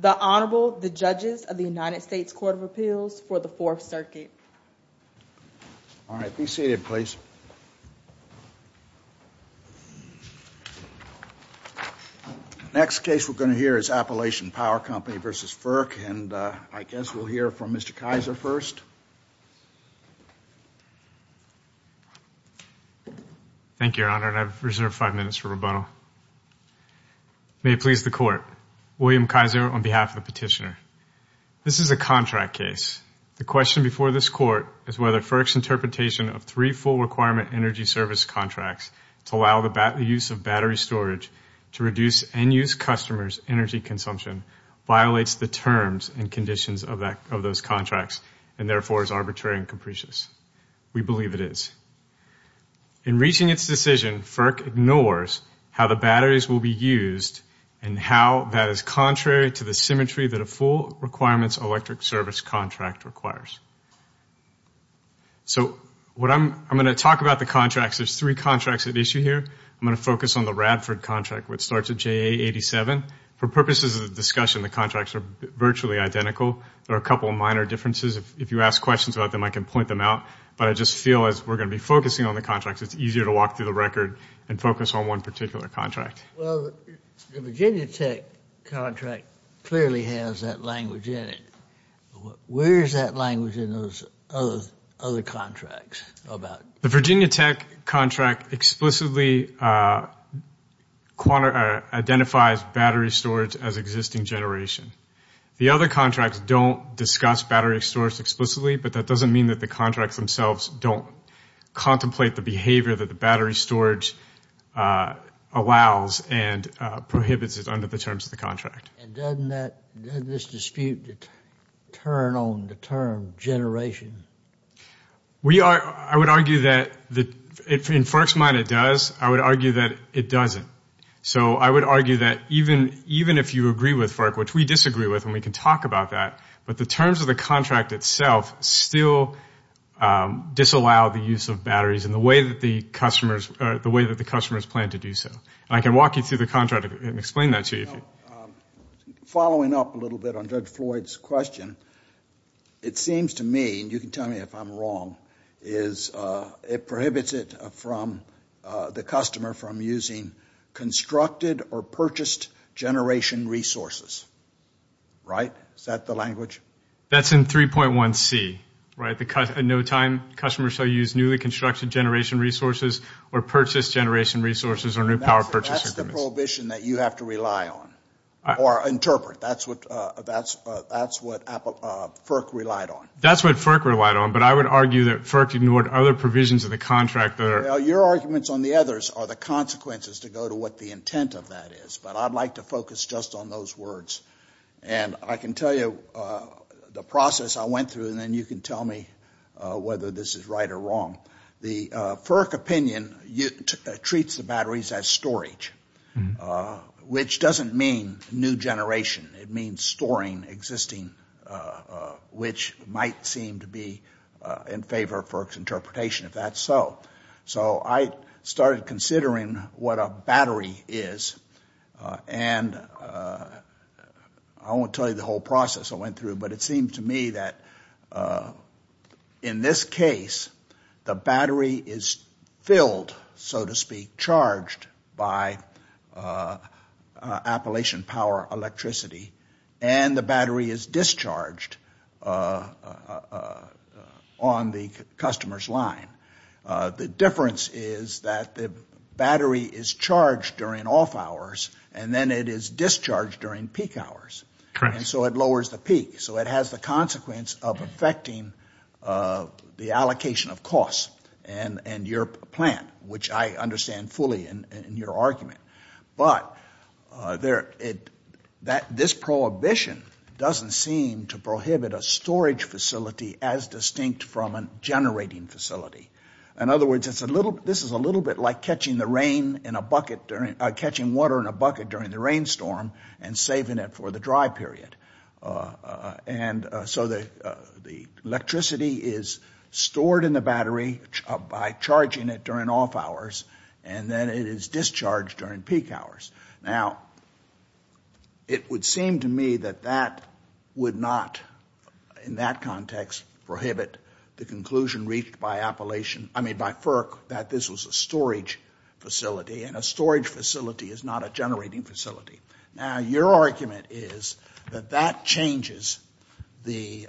The Honorable, the Judges of the United States Court of Appeals for the Fourth Circuit. All right, be seated, please. Next case we're going to hear is Appalachian Power Company v. FERC, and I guess we'll hear from Mr. Kaiser first. Thank you, Your Honor, and I've reserved five minutes for rebuttal. May it please the Court, William Kaiser on behalf of the petitioner. This is a contract case. The question before this Court is whether FERC's interpretation of three full requirement energy service contracts to allow the use of battery storage to reduce end-use customers' energy consumption violates the terms and conditions of those contracts and therefore is arbitrary and capricious. We believe it is. In reaching its decision, FERC ignores how the batteries will be used and how that is contrary to the symmetry that a full requirements electric service contract requires. So I'm going to talk about the contracts. There's three contracts at issue here. I'm going to focus on the Radford contract, which starts at JA87. For purposes of discussion, the contracts are virtually identical. There are a couple of minor differences. If you ask questions about them, I can point them out, but I just feel as we're going to be focusing on the contracts, it's easier to walk through the record and focus on one particular contract. Well, the Virginia Tech contract clearly has that language in it. Where is that language in those other contracts? The Virginia Tech contract explicitly identifies battery storage as existing generation. The other contracts don't discuss battery storage explicitly, but that doesn't mean that the contracts themselves don't contemplate the behavior that the battery storage allows and prohibits it under the terms of the contract. And doesn't this dispute turn on the term generation? I would argue that in FERC's mind it does. I would argue that it doesn't. So I would argue that even if you agree with FERC, which we disagree with, and we can talk about that, but the terms of the contract itself still disallow the use of batteries in the way that the customers plan to do so. And I can walk you through the contract and explain that to you. Following up a little bit on Judge Floyd's question, it seems to me, and you can tell me if I'm wrong, is it prohibits the customer from using constructed or purchased generation resources. Is that the language? That's in 3.1C. In no time, customers shall use newly constructed generation resources or purchased generation resources or new power purchase agreements. That's the prohibition that you have to rely on or interpret. That's what FERC relied on. That's what FERC relied on. But I would argue that FERC ignored other provisions of the contract. Your arguments on the others are the consequences to go to what the intent of that is. But I'd like to focus just on those words. And I can tell you the process I went through, and then you can tell me whether this is right or wrong. The FERC opinion treats the batteries as storage, which doesn't mean new generation. It means storing existing, which might seem to be in favor of FERC's interpretation, if that's so. So I started considering what a battery is. And I won't tell you the whole process I went through, but it seemed to me that in this case, the battery is filled, so to speak, charged by Appalachian Power Electricity, and the battery is discharged on the customer's line. The difference is that the battery is charged during off hours, and then it is discharged during peak hours. And so it lowers the peak. So it has the consequence of affecting the allocation of costs and your plant, which I understand fully in your argument. But this prohibition doesn't seem to prohibit a storage facility as distinct from a generating facility. In other words, this is a little bit like catching water in a bucket during the rainstorm and saving it for the dry period. And so the electricity is stored in the battery by charging it during off hours, and then it is discharged during peak hours. Now, it would seem to me that that would not, in that context, prohibit the conclusion reached by FERC that this was a storage facility, and a storage facility is not a generating facility. Now, your argument is that that changes the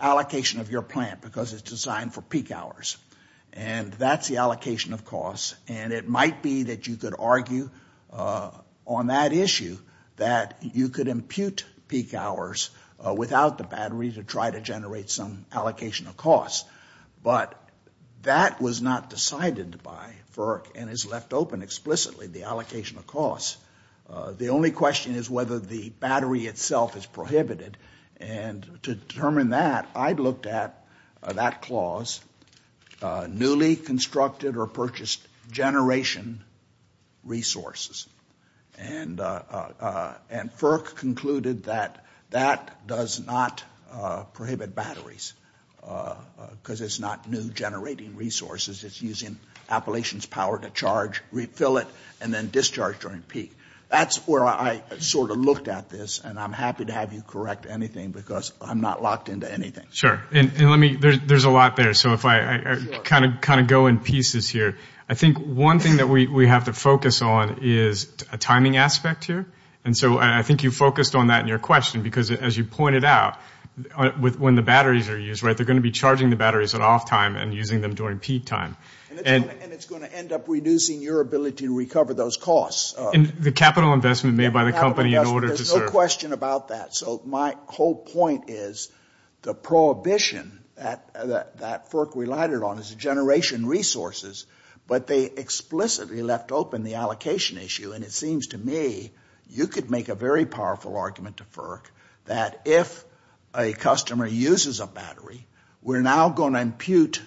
allocation of your plant because it's designed for peak hours. And that's the allocation of costs. And it might be that you could argue on that issue that you could impute peak hours without the battery to try to generate some allocation of costs. But that was not decided by FERC and is left open explicitly, the allocation of costs. The only question is whether the battery itself is prohibited. And to determine that, I looked at that clause, newly constructed or purchased generation resources. And FERC concluded that that does not prohibit batteries because it's not new generating resources. It's using Appalachian's power to charge, refill it, and then discharge during peak. That's where I sort of looked at this, and I'm happy to have you correct anything because I'm not locked into anything. And let me, there's a lot there, so if I kind of go in pieces here. I think one thing that we have to focus on is a timing aspect here. And so I think you focused on that in your question because, as you pointed out, when the batteries are used, right, they're going to be charging the batteries at off time and using them during peak time. And it's going to end up reducing your ability to recover those costs. And the capital investment made by the company in order to serve. There's no question about that. So my whole point is the prohibition that FERC relied on is generation resources, but they explicitly left open the allocation issue. And it seems to me you could make a very powerful argument to FERC that if a customer uses a battery, we're now going to impute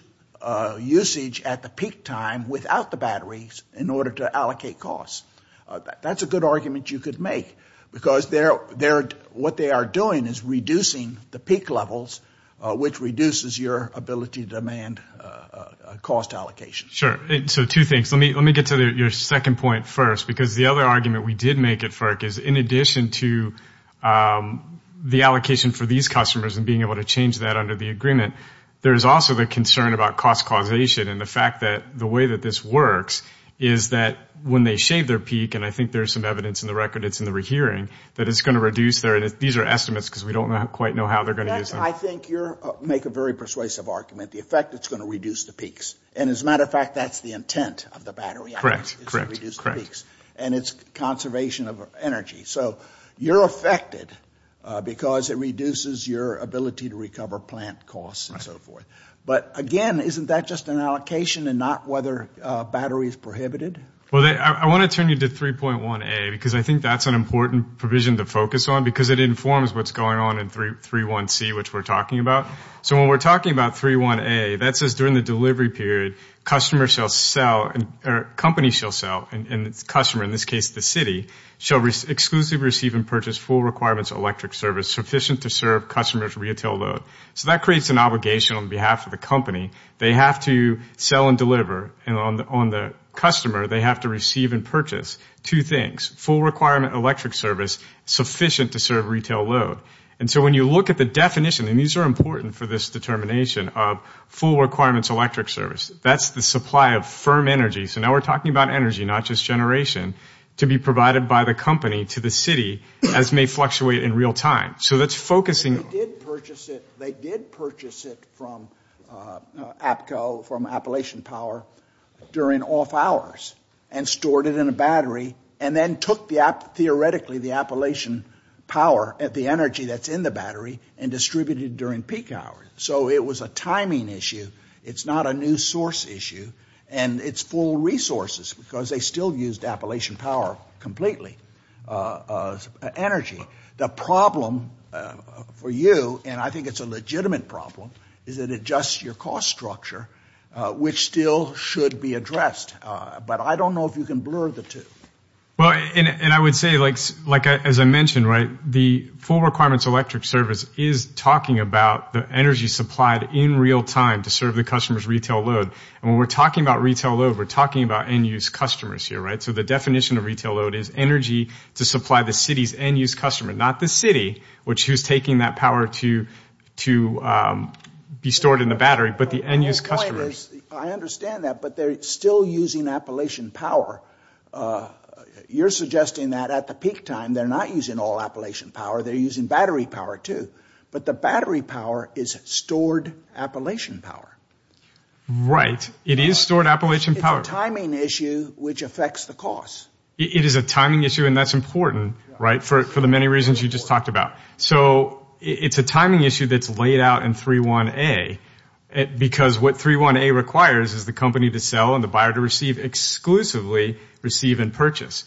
usage at the peak time without the batteries in order to allocate costs. That's a good argument you could make because what they are doing is reducing the peak levels, which reduces your ability to demand cost allocation. Sure. So two things. Let me get to your second point first because the other argument we did make at FERC is, in addition to the allocation for these customers and being able to change that under the agreement, there's also the concern about cost causation and the fact that the way that this works is that when they shave their peak, and I think there's some evidence in the record, it's in the rehearing, that it's going to reduce their, these are estimates because we don't quite know how they're going to use them. I think you make a very persuasive argument. The effect, it's going to reduce the peaks. And as a matter of fact, that's the intent of the battery. Correct. And it's conservation of energy. So you're affected because it reduces your ability to recover plant costs and so forth. But, again, isn't that just an allocation and not whether battery is prohibited? Well, I want to turn you to 3.1a because I think that's an important provision to focus on because it informs what's going on in 3.1c, which we're talking about. So when we're talking about 3.1a, that says during the delivery period, company shall sell and customer, in this case the city, shall exclusively receive and purchase full requirements electric service sufficient to serve customer's retail load. So that creates an obligation on behalf of the company. They have to sell and deliver. And on the customer, they have to receive and purchase two things, full requirement electric service sufficient to serve retail load. And so when you look at the definition, and these are important for this determination, of full requirements electric service, that's the supply of firm energy. So now we're talking about energy, not just generation, to be provided by the company to the city as may fluctuate in real time. So that's focusing. They did purchase it from APCO, from Appalachian Power, during off hours and stored it in a battery and then took, theoretically, the Appalachian Power, the energy that's in the battery, and distributed it during peak hours. So it was a timing issue. It's not a new source issue. And it's full resources because they still used Appalachian Power completely, energy. The problem for you, and I think it's a legitimate problem, is it adjusts your cost structure, which still should be addressed. But I don't know if you can blur the two. Well, and I would say, like, as I mentioned, right, the full requirements electric service is talking about the energy supplied in real time to serve the customer's retail load. And when we're talking about retail load, we're talking about end-use customers here, right? So the definition of retail load is energy to supply the city's end-use customer, not the city, which is taking that power to be stored in the battery, but the end-use customer. My point is I understand that, but they're still using Appalachian Power. You're suggesting that at the peak time they're not using all Appalachian Power. They're using battery power too. But the battery power is stored Appalachian Power. Right. It is stored Appalachian Power. It's a timing issue which affects the cost. It is a timing issue, and that's important, right, for the many reasons you just talked about. So it's a timing issue that's laid out in 3.1a because what 3.1a requires is the company to sell and the buyer to receive exclusively receive and purchase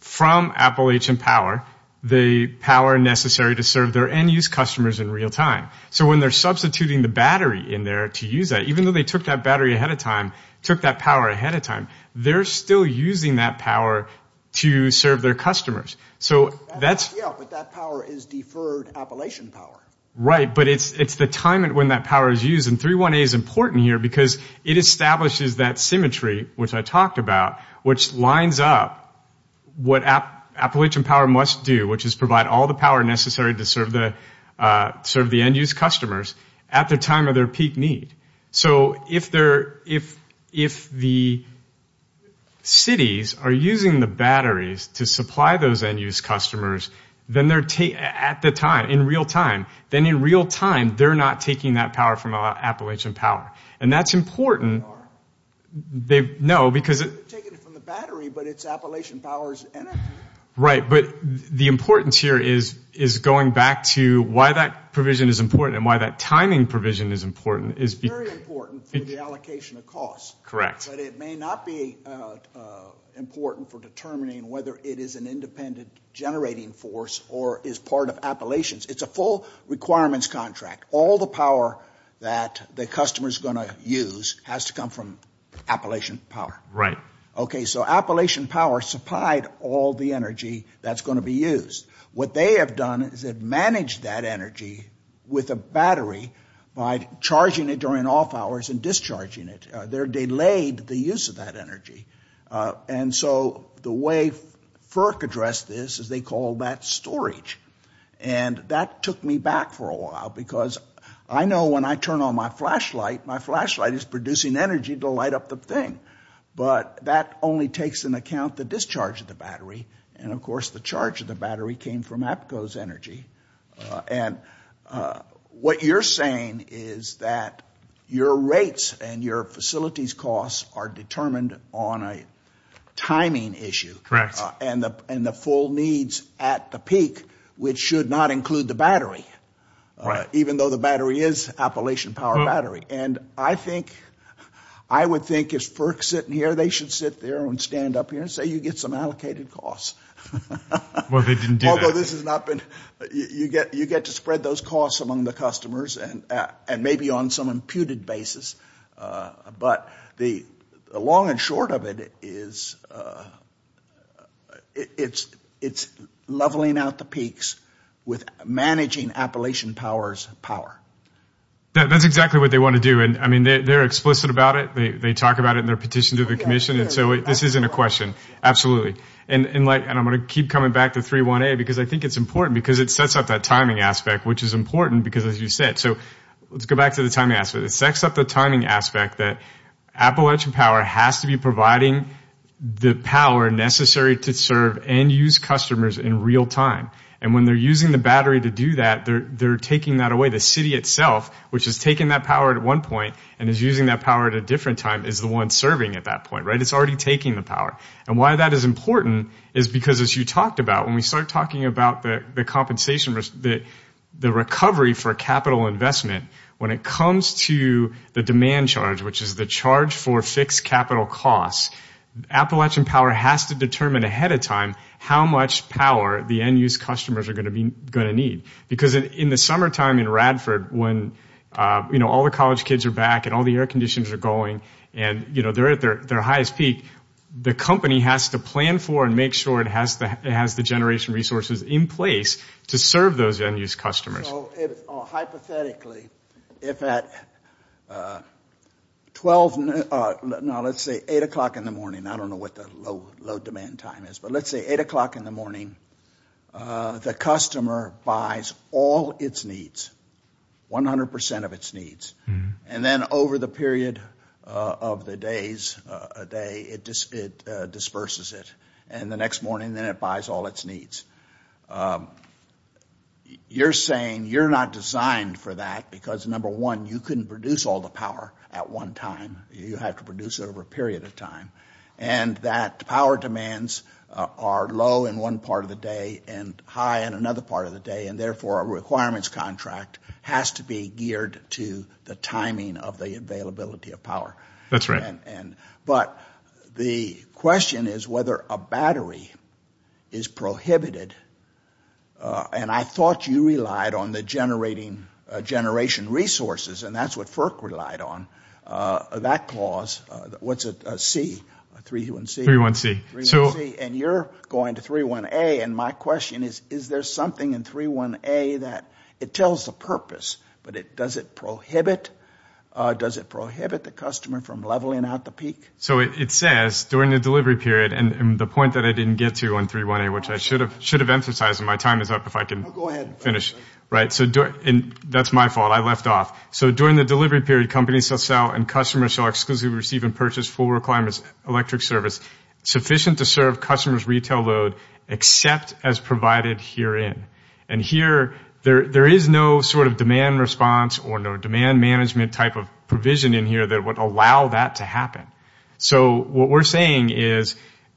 from Appalachian Power the power necessary to serve their end-use customers in real time. So when they're substituting the battery in there to use that, even though they took that battery ahead of time, took that power ahead of time, they're still using that power to serve their customers. Yeah, but that power is deferred Appalachian Power. Right, but it's the time when that power is used. And 3.1a is important here because it establishes that symmetry, which I talked about, which lines up what Appalachian Power must do, which is provide all the power necessary to serve the end-use customers at the time of their peak need. So if the cities are using the batteries to supply those end-use customers at the time, in real time, then in real time they're not taking that power from Appalachian Power. And that's important. They are. No, because it's... They're taking it from the battery, but it's Appalachian Power's energy. Right, but the importance here is going back to why that provision is important and why that timing provision is important. It's very important for the allocation of costs. Correct. But it may not be important for determining whether it is an independent generating force or is part of Appalachian's. It's a full requirements contract. All the power that the customer is going to use has to come from Appalachian Power. Right. Okay, so Appalachian Power supplied all the energy that's going to be used. What they have done is they've managed that energy with a battery by charging it during off hours and discharging it. They're delayed the use of that energy. And so the way FERC addressed this is they call that storage. And that took me back for a while because I know when I turn on my flashlight, my flashlight is producing energy to light up the thing. But that only takes into account the discharge of the battery. And, of course, the charge of the battery came from Apco's energy. And what you're saying is that your rates and your facilities costs are determined on a timing issue. Correct. And the full needs at the peak, which should not include the battery. Right. Even though the battery is Appalachian Power battery. I would think if FERC is sitting here, they should sit there and stand up here and say you get some allocated costs. Well, they didn't do that. You get to spread those costs among the customers and maybe on some imputed basis. But the long and short of it is it's leveling out the peaks with managing Appalachian Power's power. That's exactly what they want to do. And, I mean, they're explicit about it. They talk about it in their petition to the commission. And so this isn't a question. And I'm going to keep coming back to 318 because I think it's important because it sets up that timing aspect, which is important because, as you said, so let's go back to the timing aspect. It sets up the timing aspect that Appalachian Power has to be providing the power necessary to serve and use customers in real time. And when they're using the battery to do that, they're taking that away. The city itself, which has taken that power at one point and is using that power at a different time, is the one serving at that point, right? It's already taking the power. And why that is important is because, as you talked about, when we start talking about the compensation, the recovery for capital investment, when it comes to the demand charge, which is the charge for fixed capital costs, Appalachian Power has to determine ahead of time how much power the end-use customers are going to need. Because in the summertime in Radford when all the college kids are back and all the air conditions are going and they're at their highest peak, the company has to plan for and make sure it has the generation resources in place to serve those end-use customers. So hypothetically, if at 12, no, let's say 8 o'clock in the morning, I don't know what the low demand time is, but let's say 8 o'clock in the morning, the customer buys all its needs, 100 percent of its needs. And then over the period of the days, a day, it disperses it. And the next morning, then it buys all its needs. You're saying you're not designed for that because, number one, you couldn't produce all the power at one time. You have to produce it over a period of time. And that power demands are low in one part of the day and high in another part of the day, and therefore a requirements contract has to be geared to the timing of the availability of power. That's right. But the question is whether a battery is prohibited. And I thought you relied on the generation resources, and that's what FERC relied on. That clause, what's it, C, 3-1-C? 3-1-C. And you're going to 3-1-A, and my question is, is there something in 3-1-A that it tells the purpose, but does it prohibit the customer from leveling out the peak? So it says during the delivery period, and the point that I didn't get to on 3-1-A, which I should have emphasized, and my time is up if I can finish. And that's my fault. I left off. So during the delivery period, companies shall sell and customers shall exclusively receive and purchase full requirements electric service sufficient to serve customers' retail load except as provided herein. And here there is no sort of demand response or no demand management type of provision in here that would allow that to happen. So what we're saying is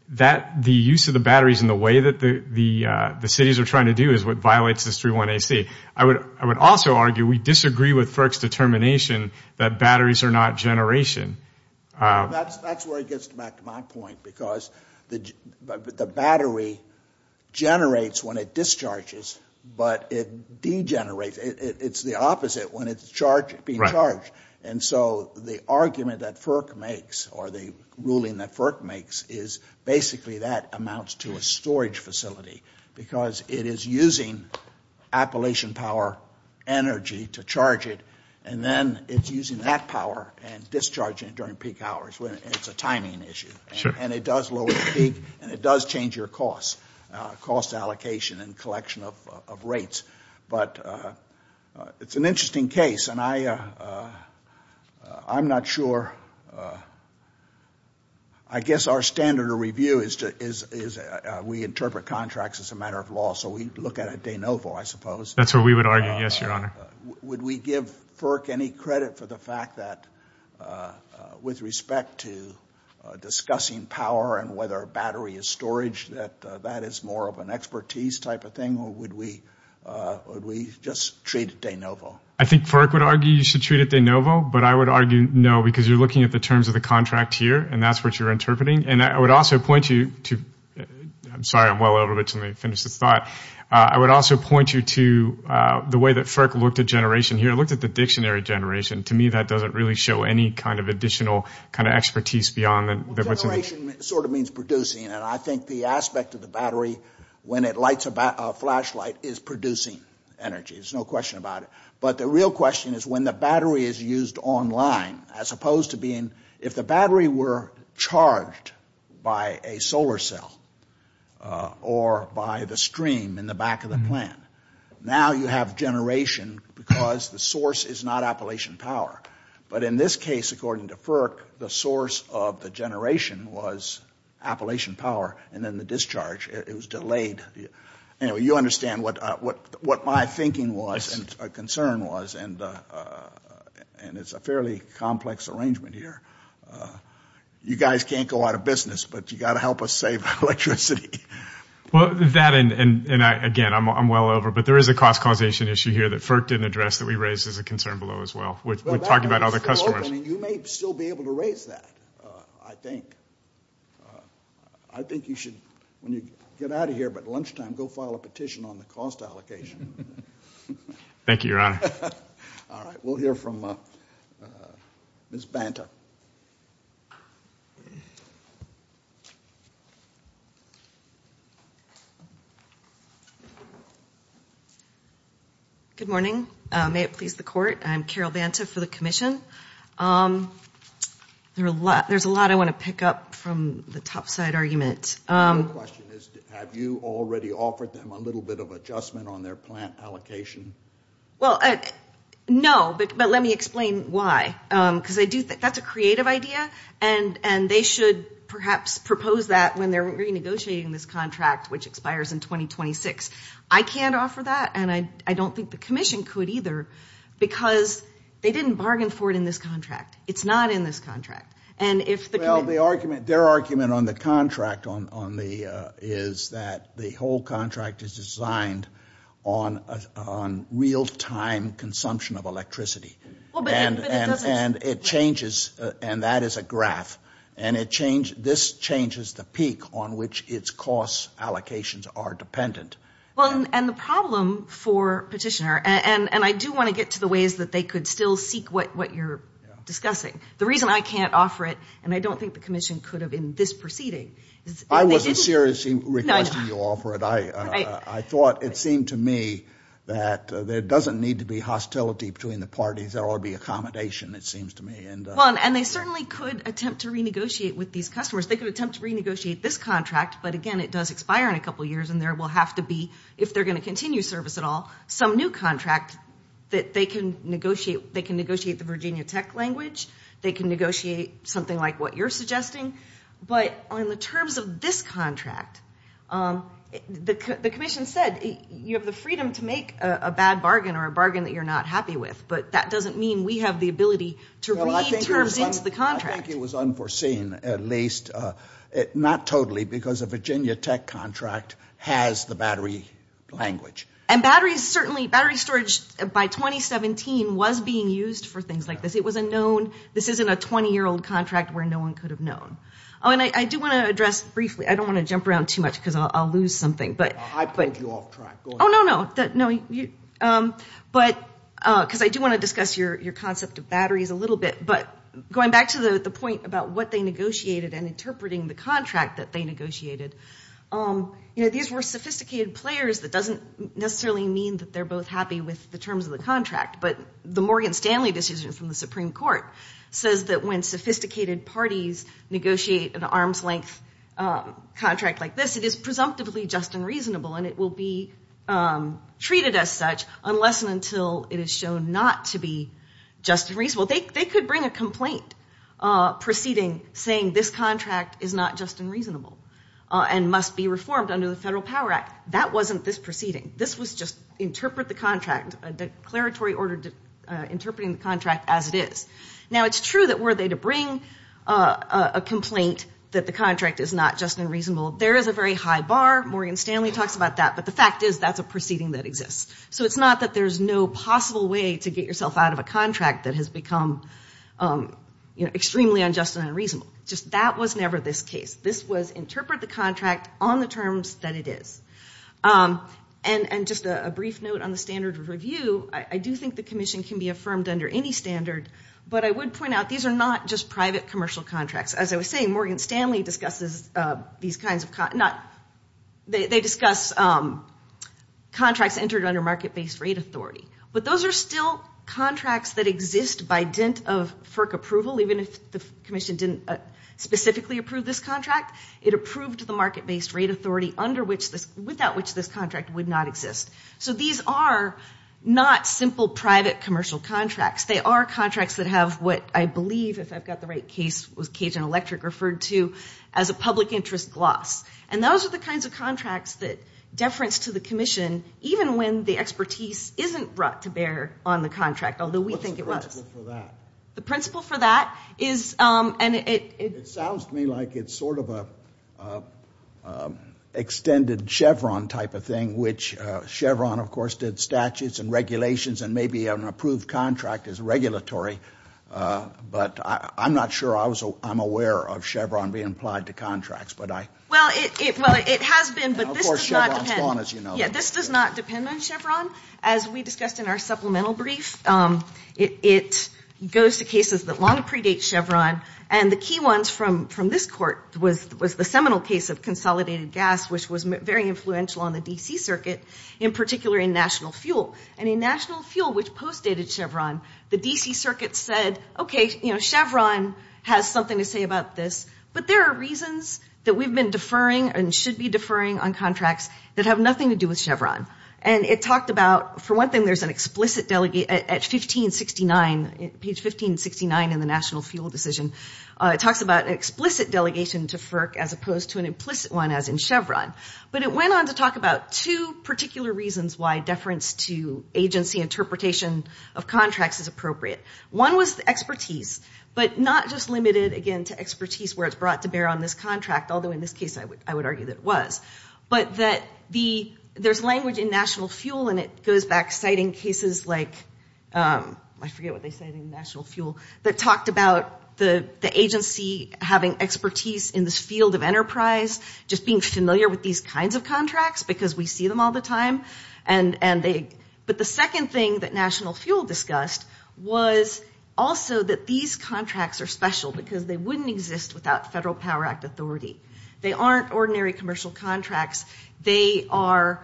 that the use of the batteries in the way that the cities are trying to do is what violates this 3-1-A-C. I would also argue we disagree with FERC's determination that batteries are not generation. That's where it gets back to my point, because the battery generates when it discharges, but it degenerates. It's the opposite when it's being charged. And so the argument that FERC makes or the ruling that FERC makes is basically that amounts to a storage facility because it is using Appalachian Power energy to charge it, and then it's using that power and discharging it during peak hours. It's a timing issue. And it does lower the peak, and it does change your cost allocation and collection of rates. But it's an interesting case, and I'm not sure. I guess our standard of review is we interpret contracts as a matter of law, so we look at it de novo, I suppose. That's what we would argue, yes, Your Honor. Would we give FERC any credit for the fact that with respect to discussing power and whether a battery is storage, that that is more of an expertise type of thing, or would we just treat it de novo? I think FERC would argue you should treat it de novo, but I would argue no because you're looking at the terms of the contract here, and that's what you're interpreting. And I would also point you to the way that FERC looked at generation here. It looked at the dictionary generation. To me that doesn't really show any kind of additional kind of expertise beyond that. Generation sort of means producing, and I think the aspect of the battery when it lights a flashlight is producing energy. There's no question about it. But the real question is when the battery is used online as opposed to being if the battery were charged by a solar cell or by the stream in the back of the plant, now you have generation because the source is not Appalachian Power. But in this case, according to FERC, the source of the generation was Appalachian Power, and then the discharge, it was delayed. Anyway, you understand what my thinking was and concern was, and it's a fairly complex arrangement here. You guys can't go out of business, but you've got to help us save electricity. That and, again, I'm well over, but there is a cost causation issue here that FERC didn't address that we raised as a concern below as well. We talked about other customers. You may still be able to raise that, I think. I think you should, when you get out of here by lunchtime, go file a petition on the cost allocation. Thank you, Your Honor. All right. We'll hear from Ms. Banta. Good morning. May it please the Court, I'm Carol Banta for the Commission. There's a lot I want to pick up from the topside argument. My question is, have you already offered them a little bit of adjustment on their plant allocation? Well, no, but let me explain why, because that's a creative idea, and they should perhaps propose that when they're renegotiating this contract, which expires in 2026. I can't offer that, and I don't think the Commission could either, because they didn't bargain for it in this contract. It's not in this contract. Well, their argument on the contract is that the whole contract is designed on real-time consumption of electricity, and that is a graph, and this changes the peak on which its cost allocations are dependent. Well, and the problem for Petitioner, and I do want to get to the ways that they could still seek what you're discussing. The reason I can't offer it, and I don't think the Commission could have in this proceeding. I wasn't seriously requesting you offer it. I thought it seemed to me that there doesn't need to be hostility between the parties. There ought to be accommodation, it seems to me. Well, and they certainly could attempt to renegotiate with these customers. They could attempt to renegotiate this contract, but again, it does expire in a couple years, and there will have to be, if they're going to continue service at all, some new contract that they can negotiate. They can negotiate the Virginia Tech language. They can negotiate something like what you're suggesting, but on the terms of this contract, the Commission said you have the freedom to make a bad bargain or a bargain that you're not happy with, but that doesn't mean we have the ability to read terms into the contract. I think it was unforeseen at least, not totally, because a Virginia Tech contract has the battery language. And batteries certainly, battery storage by 2017 was being used for things like this. It was a known, this isn't a 20-year-old contract where no one could have known. Oh, and I do want to address briefly, I don't want to jump around too much because I'll lose something. I pulled you off track. Oh, no, no. Because I do want to discuss your concept of batteries a little bit. But going back to the point about what they negotiated and interpreting the contract that they negotiated, you know, these were sophisticated players. That doesn't necessarily mean that they're both happy with the terms of the contract, but the Morgan Stanley decision from the Supreme Court says that when sophisticated parties negotiate an arm's-length contract like this, it is presumptively just and reasonable, and it will be treated as such unless and until it is shown not to be just and reasonable. They could bring a complaint proceeding saying this contract is not just and reasonable and must be reformed under the Federal Power Act. That wasn't this proceeding. This was just interpret the contract, a declaratory order interpreting the contract as it is. Now, it's true that were they to bring a complaint that the contract is not just and reasonable, there is a very high bar. Morgan Stanley talks about that. But the fact is that's a proceeding that exists. So it's not that there's no possible way to get yourself out of a contract that has become, you know, extremely unjust and unreasonable. Just that was never this case. This was interpret the contract on the terms that it is. And just a brief note on the standard of review, I do think the commission can be affirmed under any standard, but I would point out these are not just private commercial contracts. As I was saying, Morgan Stanley discusses these kinds of contracts. They discuss contracts entered under market-based rate authority. But those are still contracts that exist by dent of FERC approval, even if the commission didn't specifically approve this contract. It approved the market-based rate authority without which this contract would not exist. So these are not simple private commercial contracts. They are contracts that have what I believe, if I've got the right case, was Cajun Electric referred to as a public interest gloss. And those are the kinds of contracts that deference to the commission, even when the expertise isn't brought to bear on the contract, although we think it was. What's the principle for that? The principle for that is and it. It sounds to me like it's sort of an extended Chevron type of thing, which Chevron, of course, did statutes and regulations and maybe an approved contract is regulatory. But I'm not sure I'm aware of Chevron being applied to contracts. Well, it has been, but this does not depend on Chevron. As we discussed in our supplemental brief, it goes to cases that long predate Chevron. And the key ones from this court was the seminal case of consolidated gas, which was very influential on the D.C. Circuit, in particular in national fuel. And in national fuel, which postdated Chevron, the D.C. Circuit said, okay, you know, Chevron has something to say about this, but there are reasons that we've been deferring and should be deferring on contracts that have nothing to do with Chevron. And it talked about, for one thing, there's an explicit delegate at 1569, page 1569 in the national fuel decision. It talks about an explicit delegation to FERC as opposed to an implicit one, as in Chevron. But it went on to talk about two particular reasons why deference to agency interpretation of contracts is appropriate. One was the expertise, but not just limited, again, to expertise, where it's brought to bear on this contract, although in this case I would argue that it was. But that there's language in national fuel, and it goes back citing cases like, I forget what they say in national fuel, that talked about the agency having expertise in this field of enterprise, just being familiar with these kinds of contracts because we see them all the time. But the second thing that national fuel discussed was also that these contracts are special because they wouldn't exist without Federal Power Act authority. They aren't ordinary commercial contracts. They are,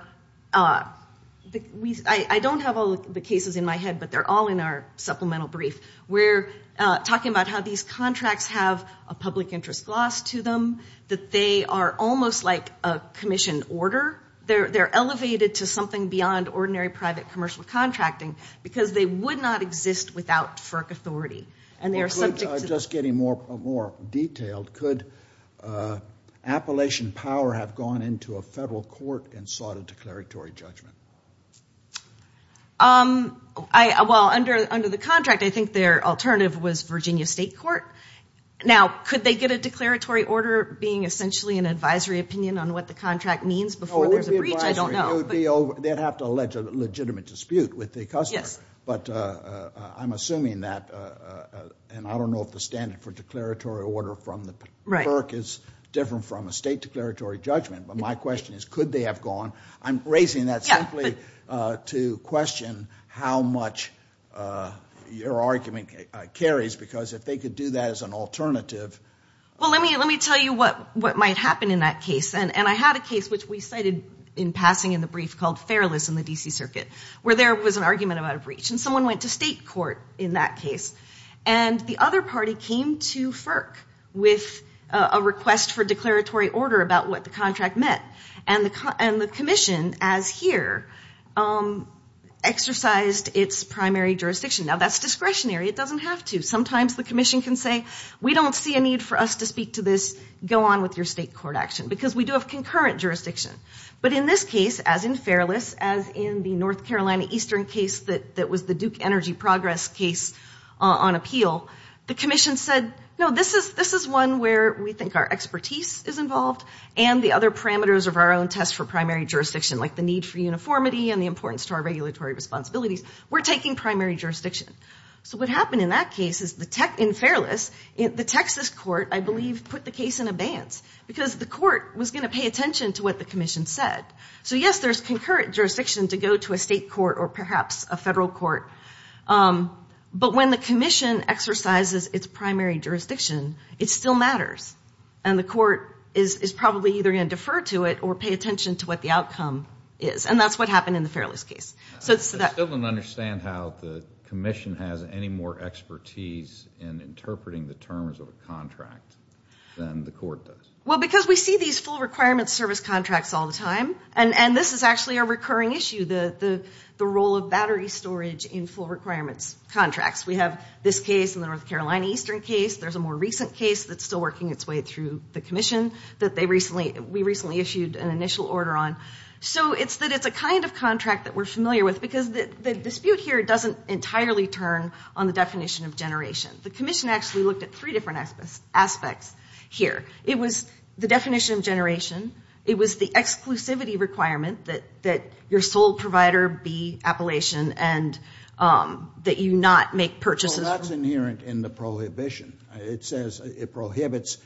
I don't have all the cases in my head, but they're all in our supplemental brief. We're talking about how these contracts have a public interest gloss to them, that they are almost like a commission order. They're elevated to something beyond ordinary private commercial contracting because they would not exist without FERC authority. Just getting more detailed, could Appalachian Power have gone into a Federal court and sought a declaratory judgment? Well, under the contract, I think their alternative was Virginia State Court. Now, could they get a declaratory order being essentially an advisory opinion on what the contract means before there's a breach? I don't know. They'd have to allege a legitimate dispute with the customer. But I'm assuming that, and I don't know if the standard for declaratory order from the FERC is different from a state declaratory judgment. But my question is, could they have gone? I'm raising that simply to question how much your argument carries because if they could do that as an alternative. Well, let me tell you what might happen in that case. And I had a case which we cited in passing in the brief called Fairless in the D.C. Circuit, where there was an argument about a breach. And someone went to state court in that case. And the other party came to FERC with a request for declaratory order about what the contract meant. And the commission, as here, exercised its primary jurisdiction. Now, that's discretionary. It doesn't have to. Sometimes the commission can say, we don't see a need for us to speak to this. Go on with your state court action because we do have concurrent jurisdiction. But in this case, as in Fairless, as in the North Carolina Eastern case that was the Duke Energy Progress case on appeal, the commission said, no, this is one where we think our expertise is involved and the other parameters of our own test for primary jurisdiction, like the need for uniformity and the importance to our regulatory responsibilities. We're taking primary jurisdiction. So what happened in that case is in Fairless, the Texas court, I believe, put the case in abeyance because the court was going to pay attention to what the commission said. So, yes, there's concurrent jurisdiction to go to a state court or perhaps a federal court. But when the commission exercises its primary jurisdiction, it still matters. And the court is probably either going to defer to it or pay attention to what the outcome is. And that's what happened in the Fairless case. I still don't understand how the commission has any more expertise in interpreting the terms of a contract than the court does. Well, because we see these full requirements service contracts all the time. And this is actually a recurring issue, the role of battery storage in full requirements contracts. We have this case in the North Carolina Eastern case. There's a more recent case that's still working its way through the commission that we recently issued an initial order on. So it's that it's a kind of contract that we're familiar with because the dispute here doesn't entirely turn on the definition of generation. The commission actually looked at three different aspects here. It was the definition of generation. It was the exclusivity requirement that your sole provider be Appalachian and that you not make purchases. Well, that's inherent in the prohibition. It says it prohibits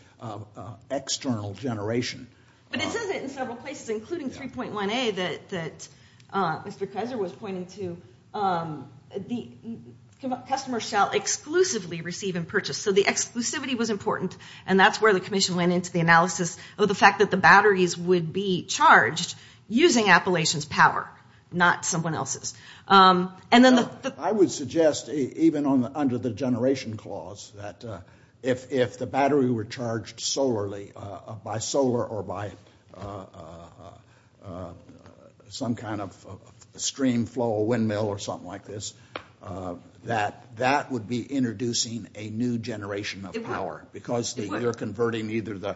external generation. But it says it in several places, including 3.1a that Mr. Kaiser was pointing to. The customer shall exclusively receive and purchase. So the exclusivity was important, and that's where the commission went into the analysis of the fact that the batteries would be charged using Appalachian's power, not someone else's. I would suggest even under the generation clause that if the battery were charged solarly, by solar or by some kind of stream flow, a windmill or something like this, that that would be introducing a new generation of power. Because you're converting either the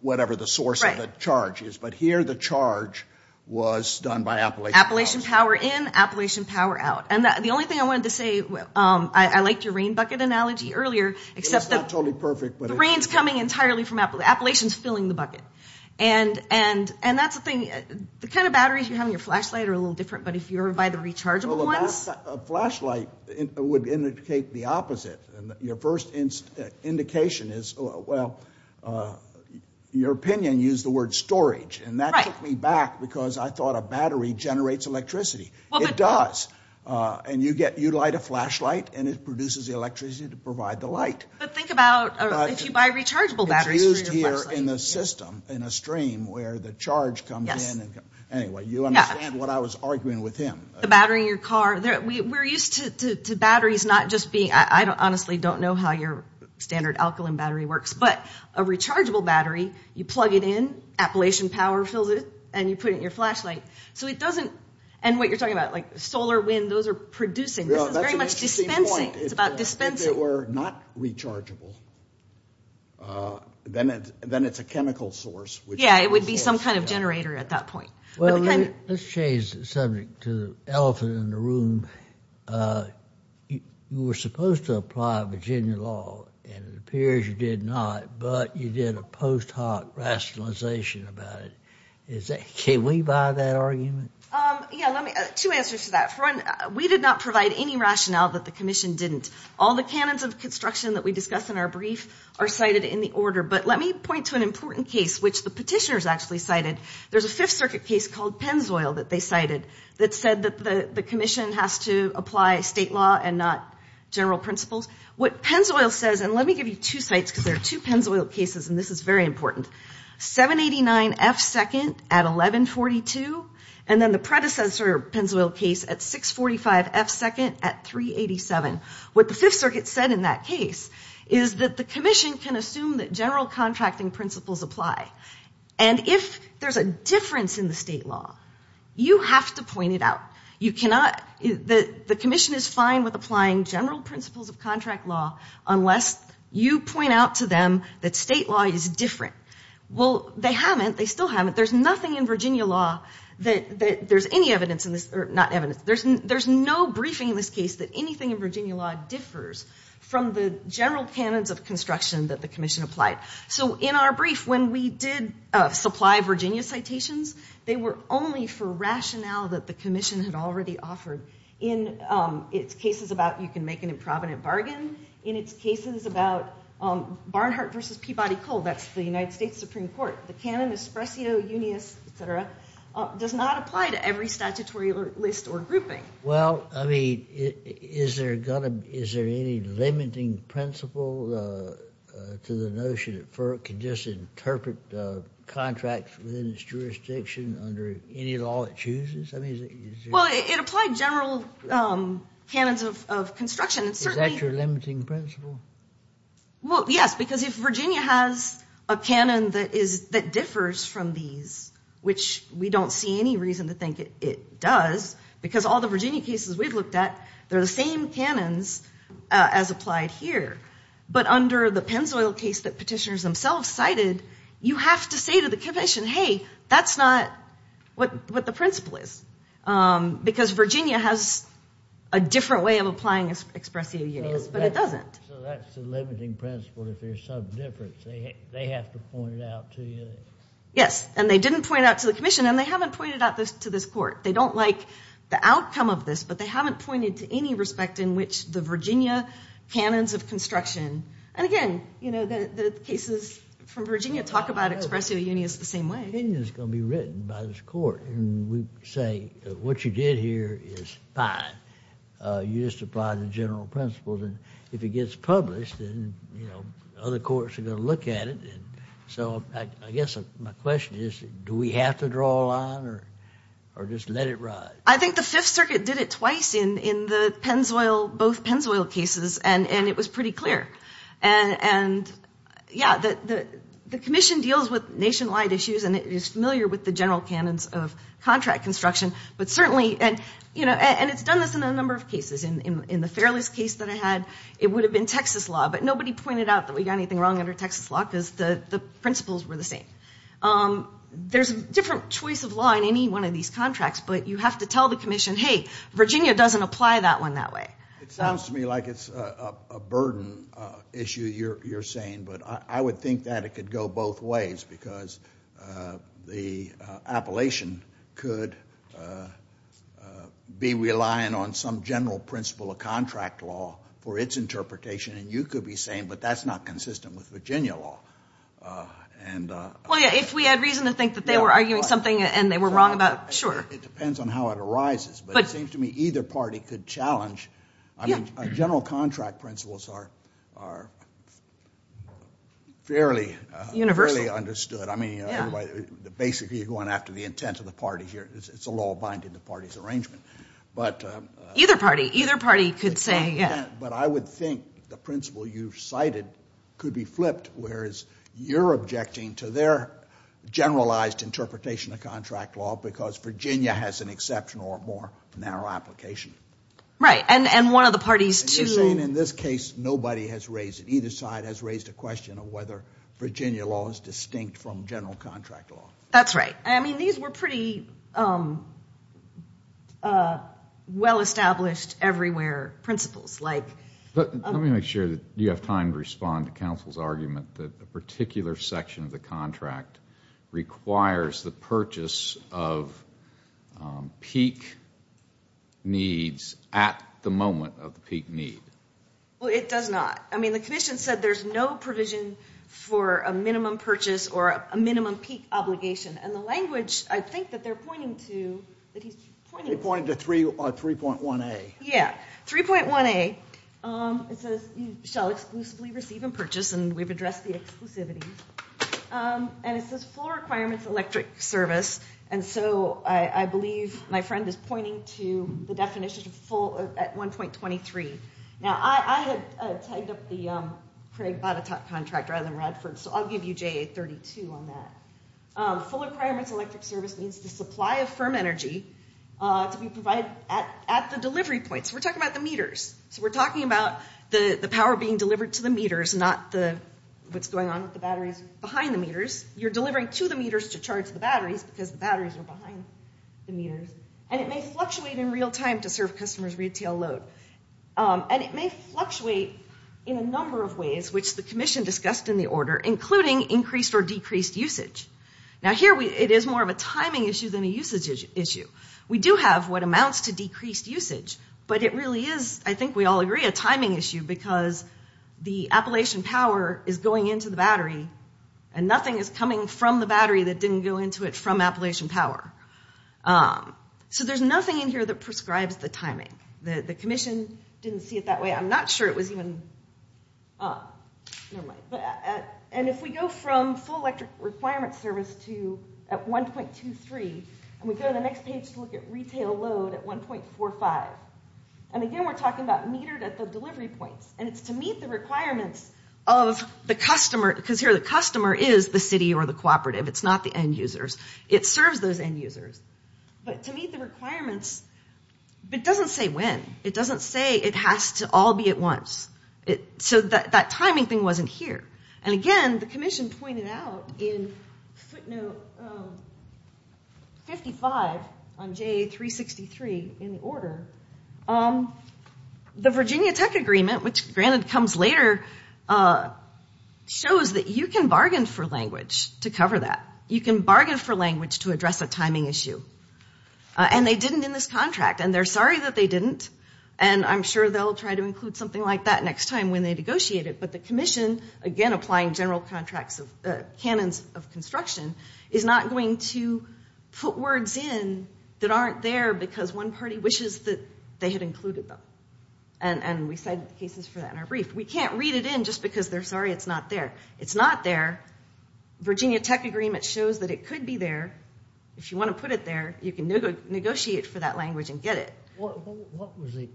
whatever the source of the charge is. But here the charge was done by Appalachian's power. Appalachian power in, Appalachian power out. And the only thing I wanted to say, I liked your rain bucket analogy earlier, except that the rain's coming entirely from Appalachian's filling the bucket. And that's the thing. The kind of batteries you have in your flashlight are a little different, but if you were to buy the rechargeable ones. Well, a flashlight would indicate the opposite. Your first indication is, well, your opinion used the word storage. And that took me back because I thought a battery generates electricity. It does. And you light a flashlight and it produces electricity to provide the light. But think about if you buy rechargeable batteries for your flashlight. It's used here in the system, in a stream where the charge comes in. Anyway, you understand what I was arguing with him. The battery in your car, we're used to batteries not just being, I honestly don't know how your standard alkaline battery works, but a rechargeable battery, you plug it in, Appalachian power fills it, and you put it in your flashlight. So it doesn't, and what you're talking about, like solar, wind, those are producing. This is very much dispensing. It's about dispensing. If it were not rechargeable, then it's a chemical source. Yeah, it would be some kind of generator at that point. Well, let's change the subject to the elephant in the room. You were supposed to apply Virginia law, and it appears you did not, but you did a post hoc rationalization about it. Can we buy that argument? Yeah, two answers to that. One, we did not provide any rationale that the commission didn't. All the canons of construction that we discuss in our brief are cited in the order, but let me point to an important case, which the petitioners actually cited. There's a Fifth Circuit case called Pennzoil that they cited that said that the commission has to apply state law and not general principles. What Pennzoil says, and let me give you two sites, because there are two Pennzoil cases, and this is very important. 789F2nd at 1142, and then the predecessor Pennzoil case at 645F2nd at 387. What the Fifth Circuit said in that case is that the commission can assume that general contracting principles apply, and if there's a difference in the state law, you have to point it out. The commission is fine with applying general principles of contract law unless you point out to them that state law is different. Well, they haven't. They still haven't. There's nothing in Virginia law that there's any evidence in this, or not evidence. There's no briefing in this case that anything in Virginia law differs from the general canons of construction that the commission applied. So in our brief, when we did supply Virginia citations, they were only for rationale that the commission had already offered in its cases about you can make an improvident bargain, in its cases about Barnhart v. Peabody Coal, that's the United States Supreme Court. The canon espressio unius, etc., does not apply to every statutory list or grouping. Well, I mean, is there any limiting principle to the notion that FERC can just interpret contracts within its jurisdiction under any law it chooses? Well, it applied general canons of construction. Is that your limiting principle? Well, yes, because if Virginia has a canon that differs from these, which we don't see any reason to think it does, because all the Virginia cases we've looked at, they're the same canons as applied here. But under the Pennzoil case that Petitioners themselves cited, you have to say to the commission, hey, that's not what the principle is, because Virginia has a different way of applying espressio unius, but it doesn't. So that's the limiting principle if there's some difference. They have to point it out to you? Yes, and they didn't point it out to the commission, and they haven't pointed it out to this court. They don't like the outcome of this, but they haven't pointed to any respect in which the Virginia canons of construction. And again, the cases from Virginia talk about espressio unius the same way. The opinion is going to be written by this court, and we say what you did here is fine. You just applied the general principles, and if it gets published then other courts are going to look at it. So I guess my question is do we have to draw a line or just let it ride? I think the Fifth Circuit did it twice in both Pennzoil cases, and it was pretty clear. And, yeah, the commission deals with nationwide issues, and it is familiar with the general canons of contract construction, but certainly, and it's done this in a number of cases. In the Fairless case that I had, it would have been Texas law, but nobody pointed out that we got anything wrong under Texas law because the principles were the same. There's a different choice of law in any one of these contracts, but you have to tell the commission, hey, Virginia doesn't apply that one that way. It sounds to me like it's a burden issue you're saying, but I would think that it could go both ways because the appellation could be relying on some general principle of contract law for its interpretation, and you could be saying, but that's not consistent with Virginia law. Well, yeah, if we had reason to think that they were arguing something and they were wrong about it, sure. It depends on how it arises, but it seems to me either party could challenge. I mean, general contract principles are fairly understood. I mean, basically you're going after the intent of the party here. It's a law binding the party's arrangement. Either party. Either party could say, yeah. But I would think the principle you've cited could be flipped, whereas you're objecting to their generalized interpretation of contract law because Virginia has an exceptional or more narrow application. Right, and one of the parties too. And you're saying in this case nobody has raised it. Either side has raised a question of whether Virginia law is distinct from general contract law. That's right. I mean, these were pretty well-established everywhere principles. Let me make sure that you have time to respond to counsel's argument that a particular section of the contract requires the purchase of peak needs at the moment of the peak need. Well, it does not. I mean, the commission said there's no provision for a minimum purchase or a minimum peak obligation. And the language I think that they're pointing to, that he's pointing to. They're pointing to 3.1a. Yeah, 3.1a. It says you shall exclusively receive and purchase. And we've addressed the exclusivity. And it says full requirements electric service. And so I believe my friend is pointing to the definition of full at 1.23. Now, I had tied up the Craig Botetourt contract rather than Radford, so I'll give you JA32 on that. Full requirements electric service means the supply of firm energy to be provided at the delivery points. We're talking about the meters. So we're talking about the power being delivered to the meters, not what's going on with the batteries behind the meters. You're delivering to the meters to charge the batteries because the batteries are behind the meters. And it may fluctuate in real time to serve customer's retail load. And it may fluctuate in a number of ways, which the commission discussed in the order, including increased or decreased usage. Now, here it is more of a timing issue than a usage issue. We do have what amounts to decreased usage, but it really is, I think we all agree, a timing issue because the Appalachian Power is going into the battery and nothing is coming from the battery that didn't go into it from Appalachian Power. So there's nothing in here that prescribes the timing. The commission didn't see it that way. I'm not sure it was even – never mind. And if we go from full electric requirements service to at 1.23, and we go to the next page to look at retail load at 1.45. And again, we're talking about metered at the delivery points. And it's to meet the requirements of the customer because here the customer is the city or the cooperative. It's not the end users. It serves those end users. But to meet the requirements – but it doesn't say when. It doesn't say it has to all be at once. So that timing thing wasn't here. And again, the commission pointed out in footnote 55 on JA363 in the order, the Virginia Tech Agreement, which granted comes later, shows that you can bargain for language to cover that. You can bargain for language to address a timing issue. And they didn't in this contract, and they're sorry that they didn't. And I'm sure they'll try to include something like that next time when they negotiate it. But the commission, again, applying general canons of construction, is not going to put words in that aren't there because one party wishes that they had included them. And we cited the cases for that in our brief. We can't read it in just because they're sorry it's not there. It's not there. Virginia Tech Agreement shows that it could be there. If you want to put it there, you can negotiate for that language and get it. What was the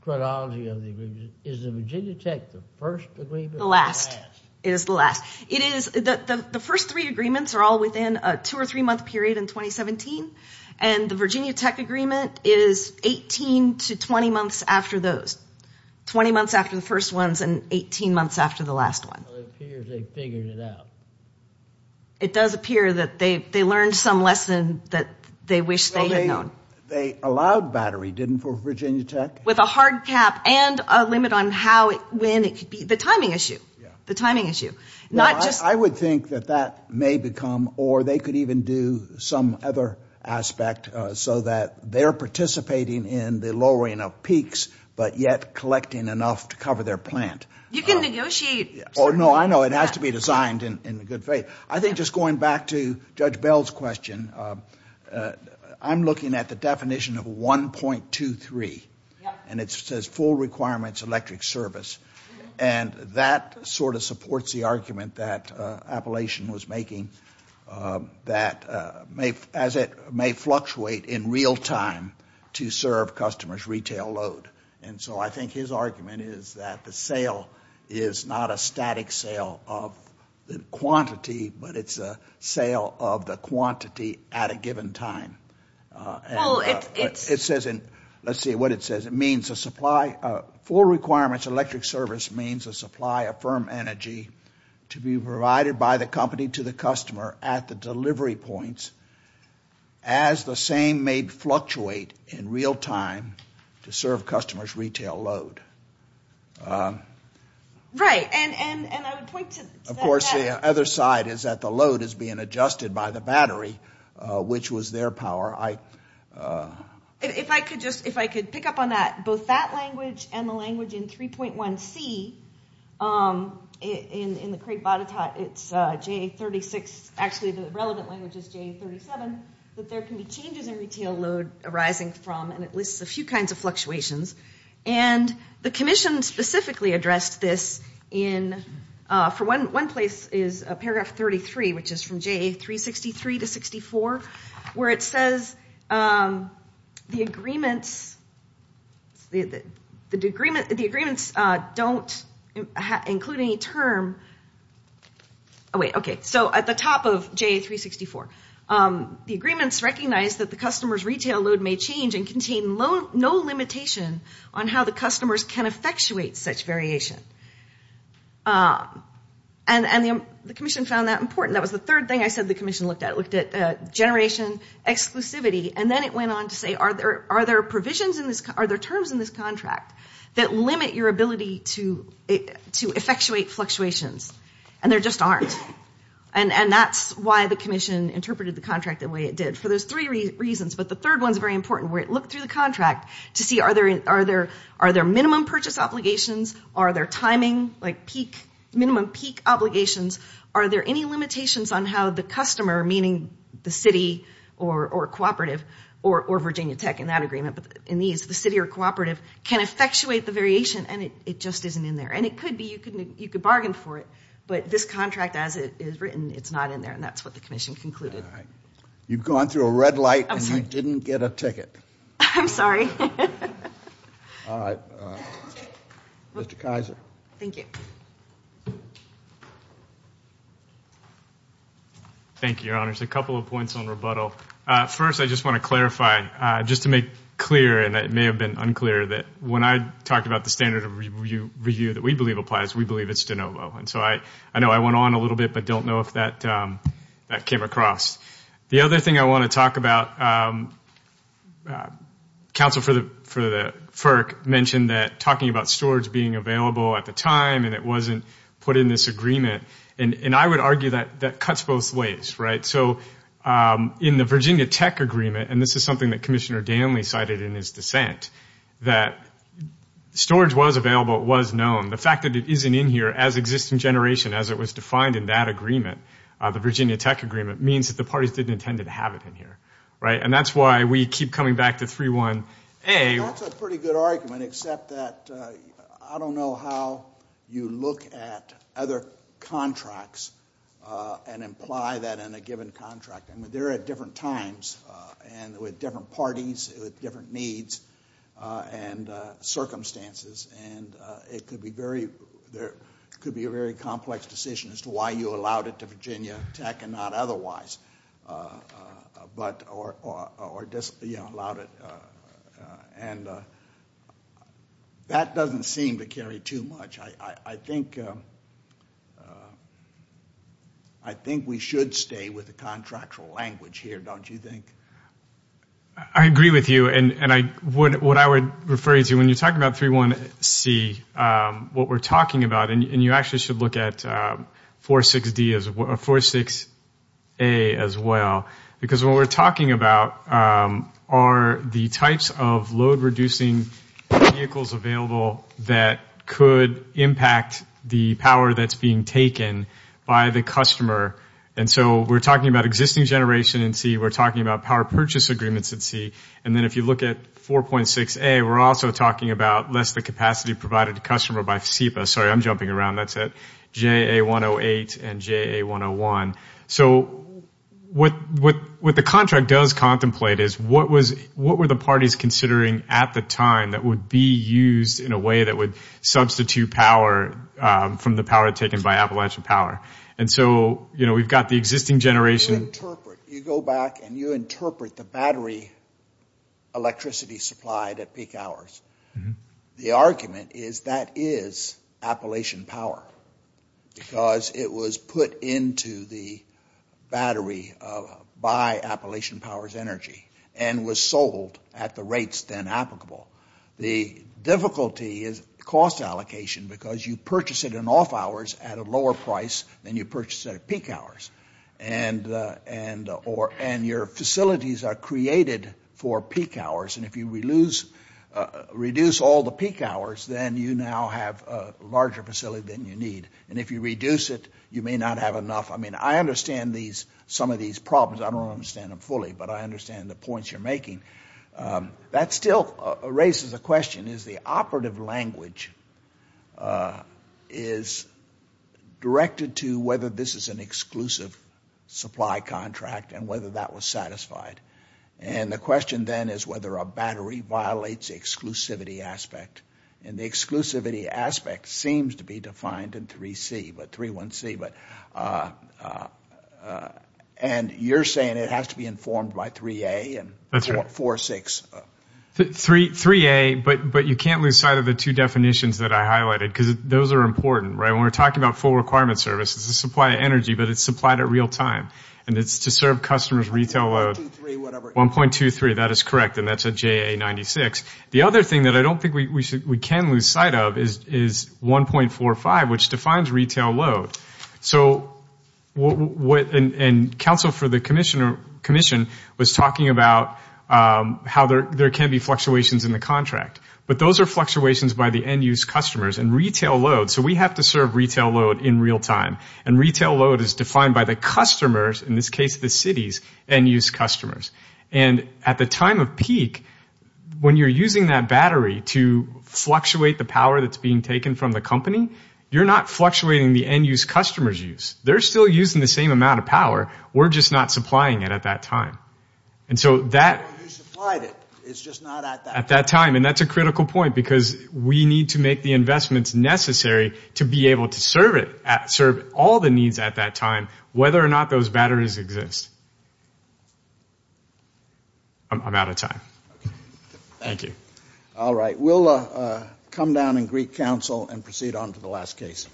chronology of the agreement? Is the Virginia Tech the first agreement or the last? The last. It is the last. The first three agreements are all within a two- or three-month period in 2017, and the Virginia Tech Agreement is 18 to 20 months after those, 20 months after the first ones and 18 months after the last one. Well, it appears they figured it out. It does appear that they learned some lesson that they wish they had known. Well, they allowed battery, didn't they, for Virginia Tech? With a hard cap and a limit on when it could be. The timing issue. The timing issue. I would think that that may become, or they could even do some other aspect so that they're participating in the lowering of peaks but yet collecting enough to cover their plant. You can negotiate. Oh, no, I know. It has to be designed in good faith. I think just going back to Judge Bell's question, I'm looking at the definition of 1.23. And it says full requirements electric service. And that sort of supports the argument that Appalachian was making that as it may fluctuate in real time to serve customers' retail load. And so I think his argument is that the sale is not a static sale of the quantity, but it's a sale of the quantity at a given time. It says in, let's see what it says. It means a supply, full requirements electric service means a supply of firm energy to be provided by the company to the customer at the delivery points as the same may fluctuate in real time to serve customers' retail load. Right. And I would point to that. And, of course, the other side is that the load is being adjusted by the battery, which was their power. If I could just pick up on that, both that language and the language in 3.1C, in the Craig Botetourt, it's J36. Actually, the relevant language is J37, that there can be changes in retail load arising from, and it lists a few kinds of fluctuations. And the commission specifically addressed this in, for one place is paragraph 33, which is from JA363 to 64, where it says the agreements don't include any term. Oh, wait, okay. So at the top of JA364, the agreements recognize that the customer's retail load may change and contain no limitation on how the customers can effectuate such variation. And the commission found that important. That was the third thing I said the commission looked at. It looked at generation exclusivity. And then it went on to say, are there terms in this contract that limit your ability to effectuate fluctuations? And there just aren't. And that's why the commission interpreted the contract the way it did, for those three reasons. But the third one's very important, where it looked through the contract to see, are there minimum purchase obligations? Are there timing, like minimum peak obligations? Are there any limitations on how the customer, meaning the city or cooperative, or Virginia Tech in that agreement, but in these, the city or cooperative, can effectuate the variation? And it just isn't in there. And it could be. You could bargain for it. But this contract, as it is written, it's not in there. And that's what the commission concluded. You've gone through a red light and didn't get a ticket. I'm sorry. All right. Mr. Kaiser. Thank you. Thank you, Your Honors. A couple of points on rebuttal. First, I just want to clarify, just to make clear, and it may have been unclear, that when I talked about the standard of review that we believe applies, we believe it's de novo. And so I know I went on a little bit, but I don't know if that came across. The other thing I want to talk about, counsel for the FERC mentioned that talking about storage being available at the time and it wasn't put in this agreement. And I would argue that that cuts both ways, right? So in the Virginia Tech agreement, and this is something that Commissioner Danley cited in his dissent, that storage was available, it was known. The fact that it isn't in here as existing generation, as it was defined in that agreement, the Virginia Tech agreement, means that the parties didn't intend to have it in here, right? And that's why we keep coming back to 3.1a. That's a pretty good argument, except that I don't know how you look at other contracts and imply that in a given contract. I mean, they're at different times and with different parties, with different needs and circumstances. And it could be a very complex decision as to why you allowed it to Virginia Tech and not otherwise, or allowed it. And that doesn't seem to carry too much. I think we should stay with the contractual language here, don't you think? I agree with you. What I would refer you to, when you're talking about 3.1c, what we're talking about, and you actually should look at 4.6a as well, because what we're talking about are the types of load-reducing vehicles available that could impact the power that's being taken by the customer. And so we're talking about existing generation in c, we're talking about power purchase agreements in c, and then if you look at 4.6a, we're also talking about less the capacity provided to customer by SEPA. Sorry, I'm jumping around. That's at JA108 and JA101. So what the contract does contemplate is, what were the parties considering at the time that would be used in a way that would substitute power from the power taken by Appalachian Power? And so we've got the existing generation. You go back and you interpret the battery electricity supplied at peak hours. The argument is that is Appalachian Power, because it was put into the battery by Appalachian Power's energy and was sold at the rates then applicable. The difficulty is cost allocation, because you purchase it in off hours at a lower price than you purchase it at peak hours. And your facilities are created for peak hours, and if you reduce all the peak hours, then you now have a larger facility than you need. And if you reduce it, you may not have enough. I mean, I understand some of these problems. I don't understand them fully, but I understand the points you're making. That still raises a question. The question is the operative language is directed to whether this is an exclusive supply contract and whether that was satisfied. And the question then is whether a battery violates the exclusivity aspect. And the exclusivity aspect seems to be defined in 3C, but 3-1-C, and you're saying it has to be informed by 3A and 4-6. 3A, but you can't lose sight of the two definitions that I highlighted, because those are important, right? When we're talking about full requirement services, it's a supply of energy, but it's supplied at real time, and it's to serve customers' retail load. 1.23, whatever. 1.23, that is correct, and that's a JA-96. The other thing that I don't think we can lose sight of is 1.45, which defines retail load. And counsel for the commission was talking about how there can be fluctuations in the contract, but those are fluctuations by the end-use customers and retail load. So we have to serve retail load in real time, and retail load is defined by the customers, in this case the city's end-use customers. And at the time of peak, when you're using that battery to fluctuate the power that's being taken from the company, you're not fluctuating the end-use customers' use. They're still using the same amount of power. We're just not supplying it at that time. And so that at that time, and that's a critical point, because we need to make the investments necessary to be able to serve it, serve all the needs at that time, whether or not those batteries exist. I'm out of time. Thank you. All right. We'll come down and greet counsel and proceed on to the last case.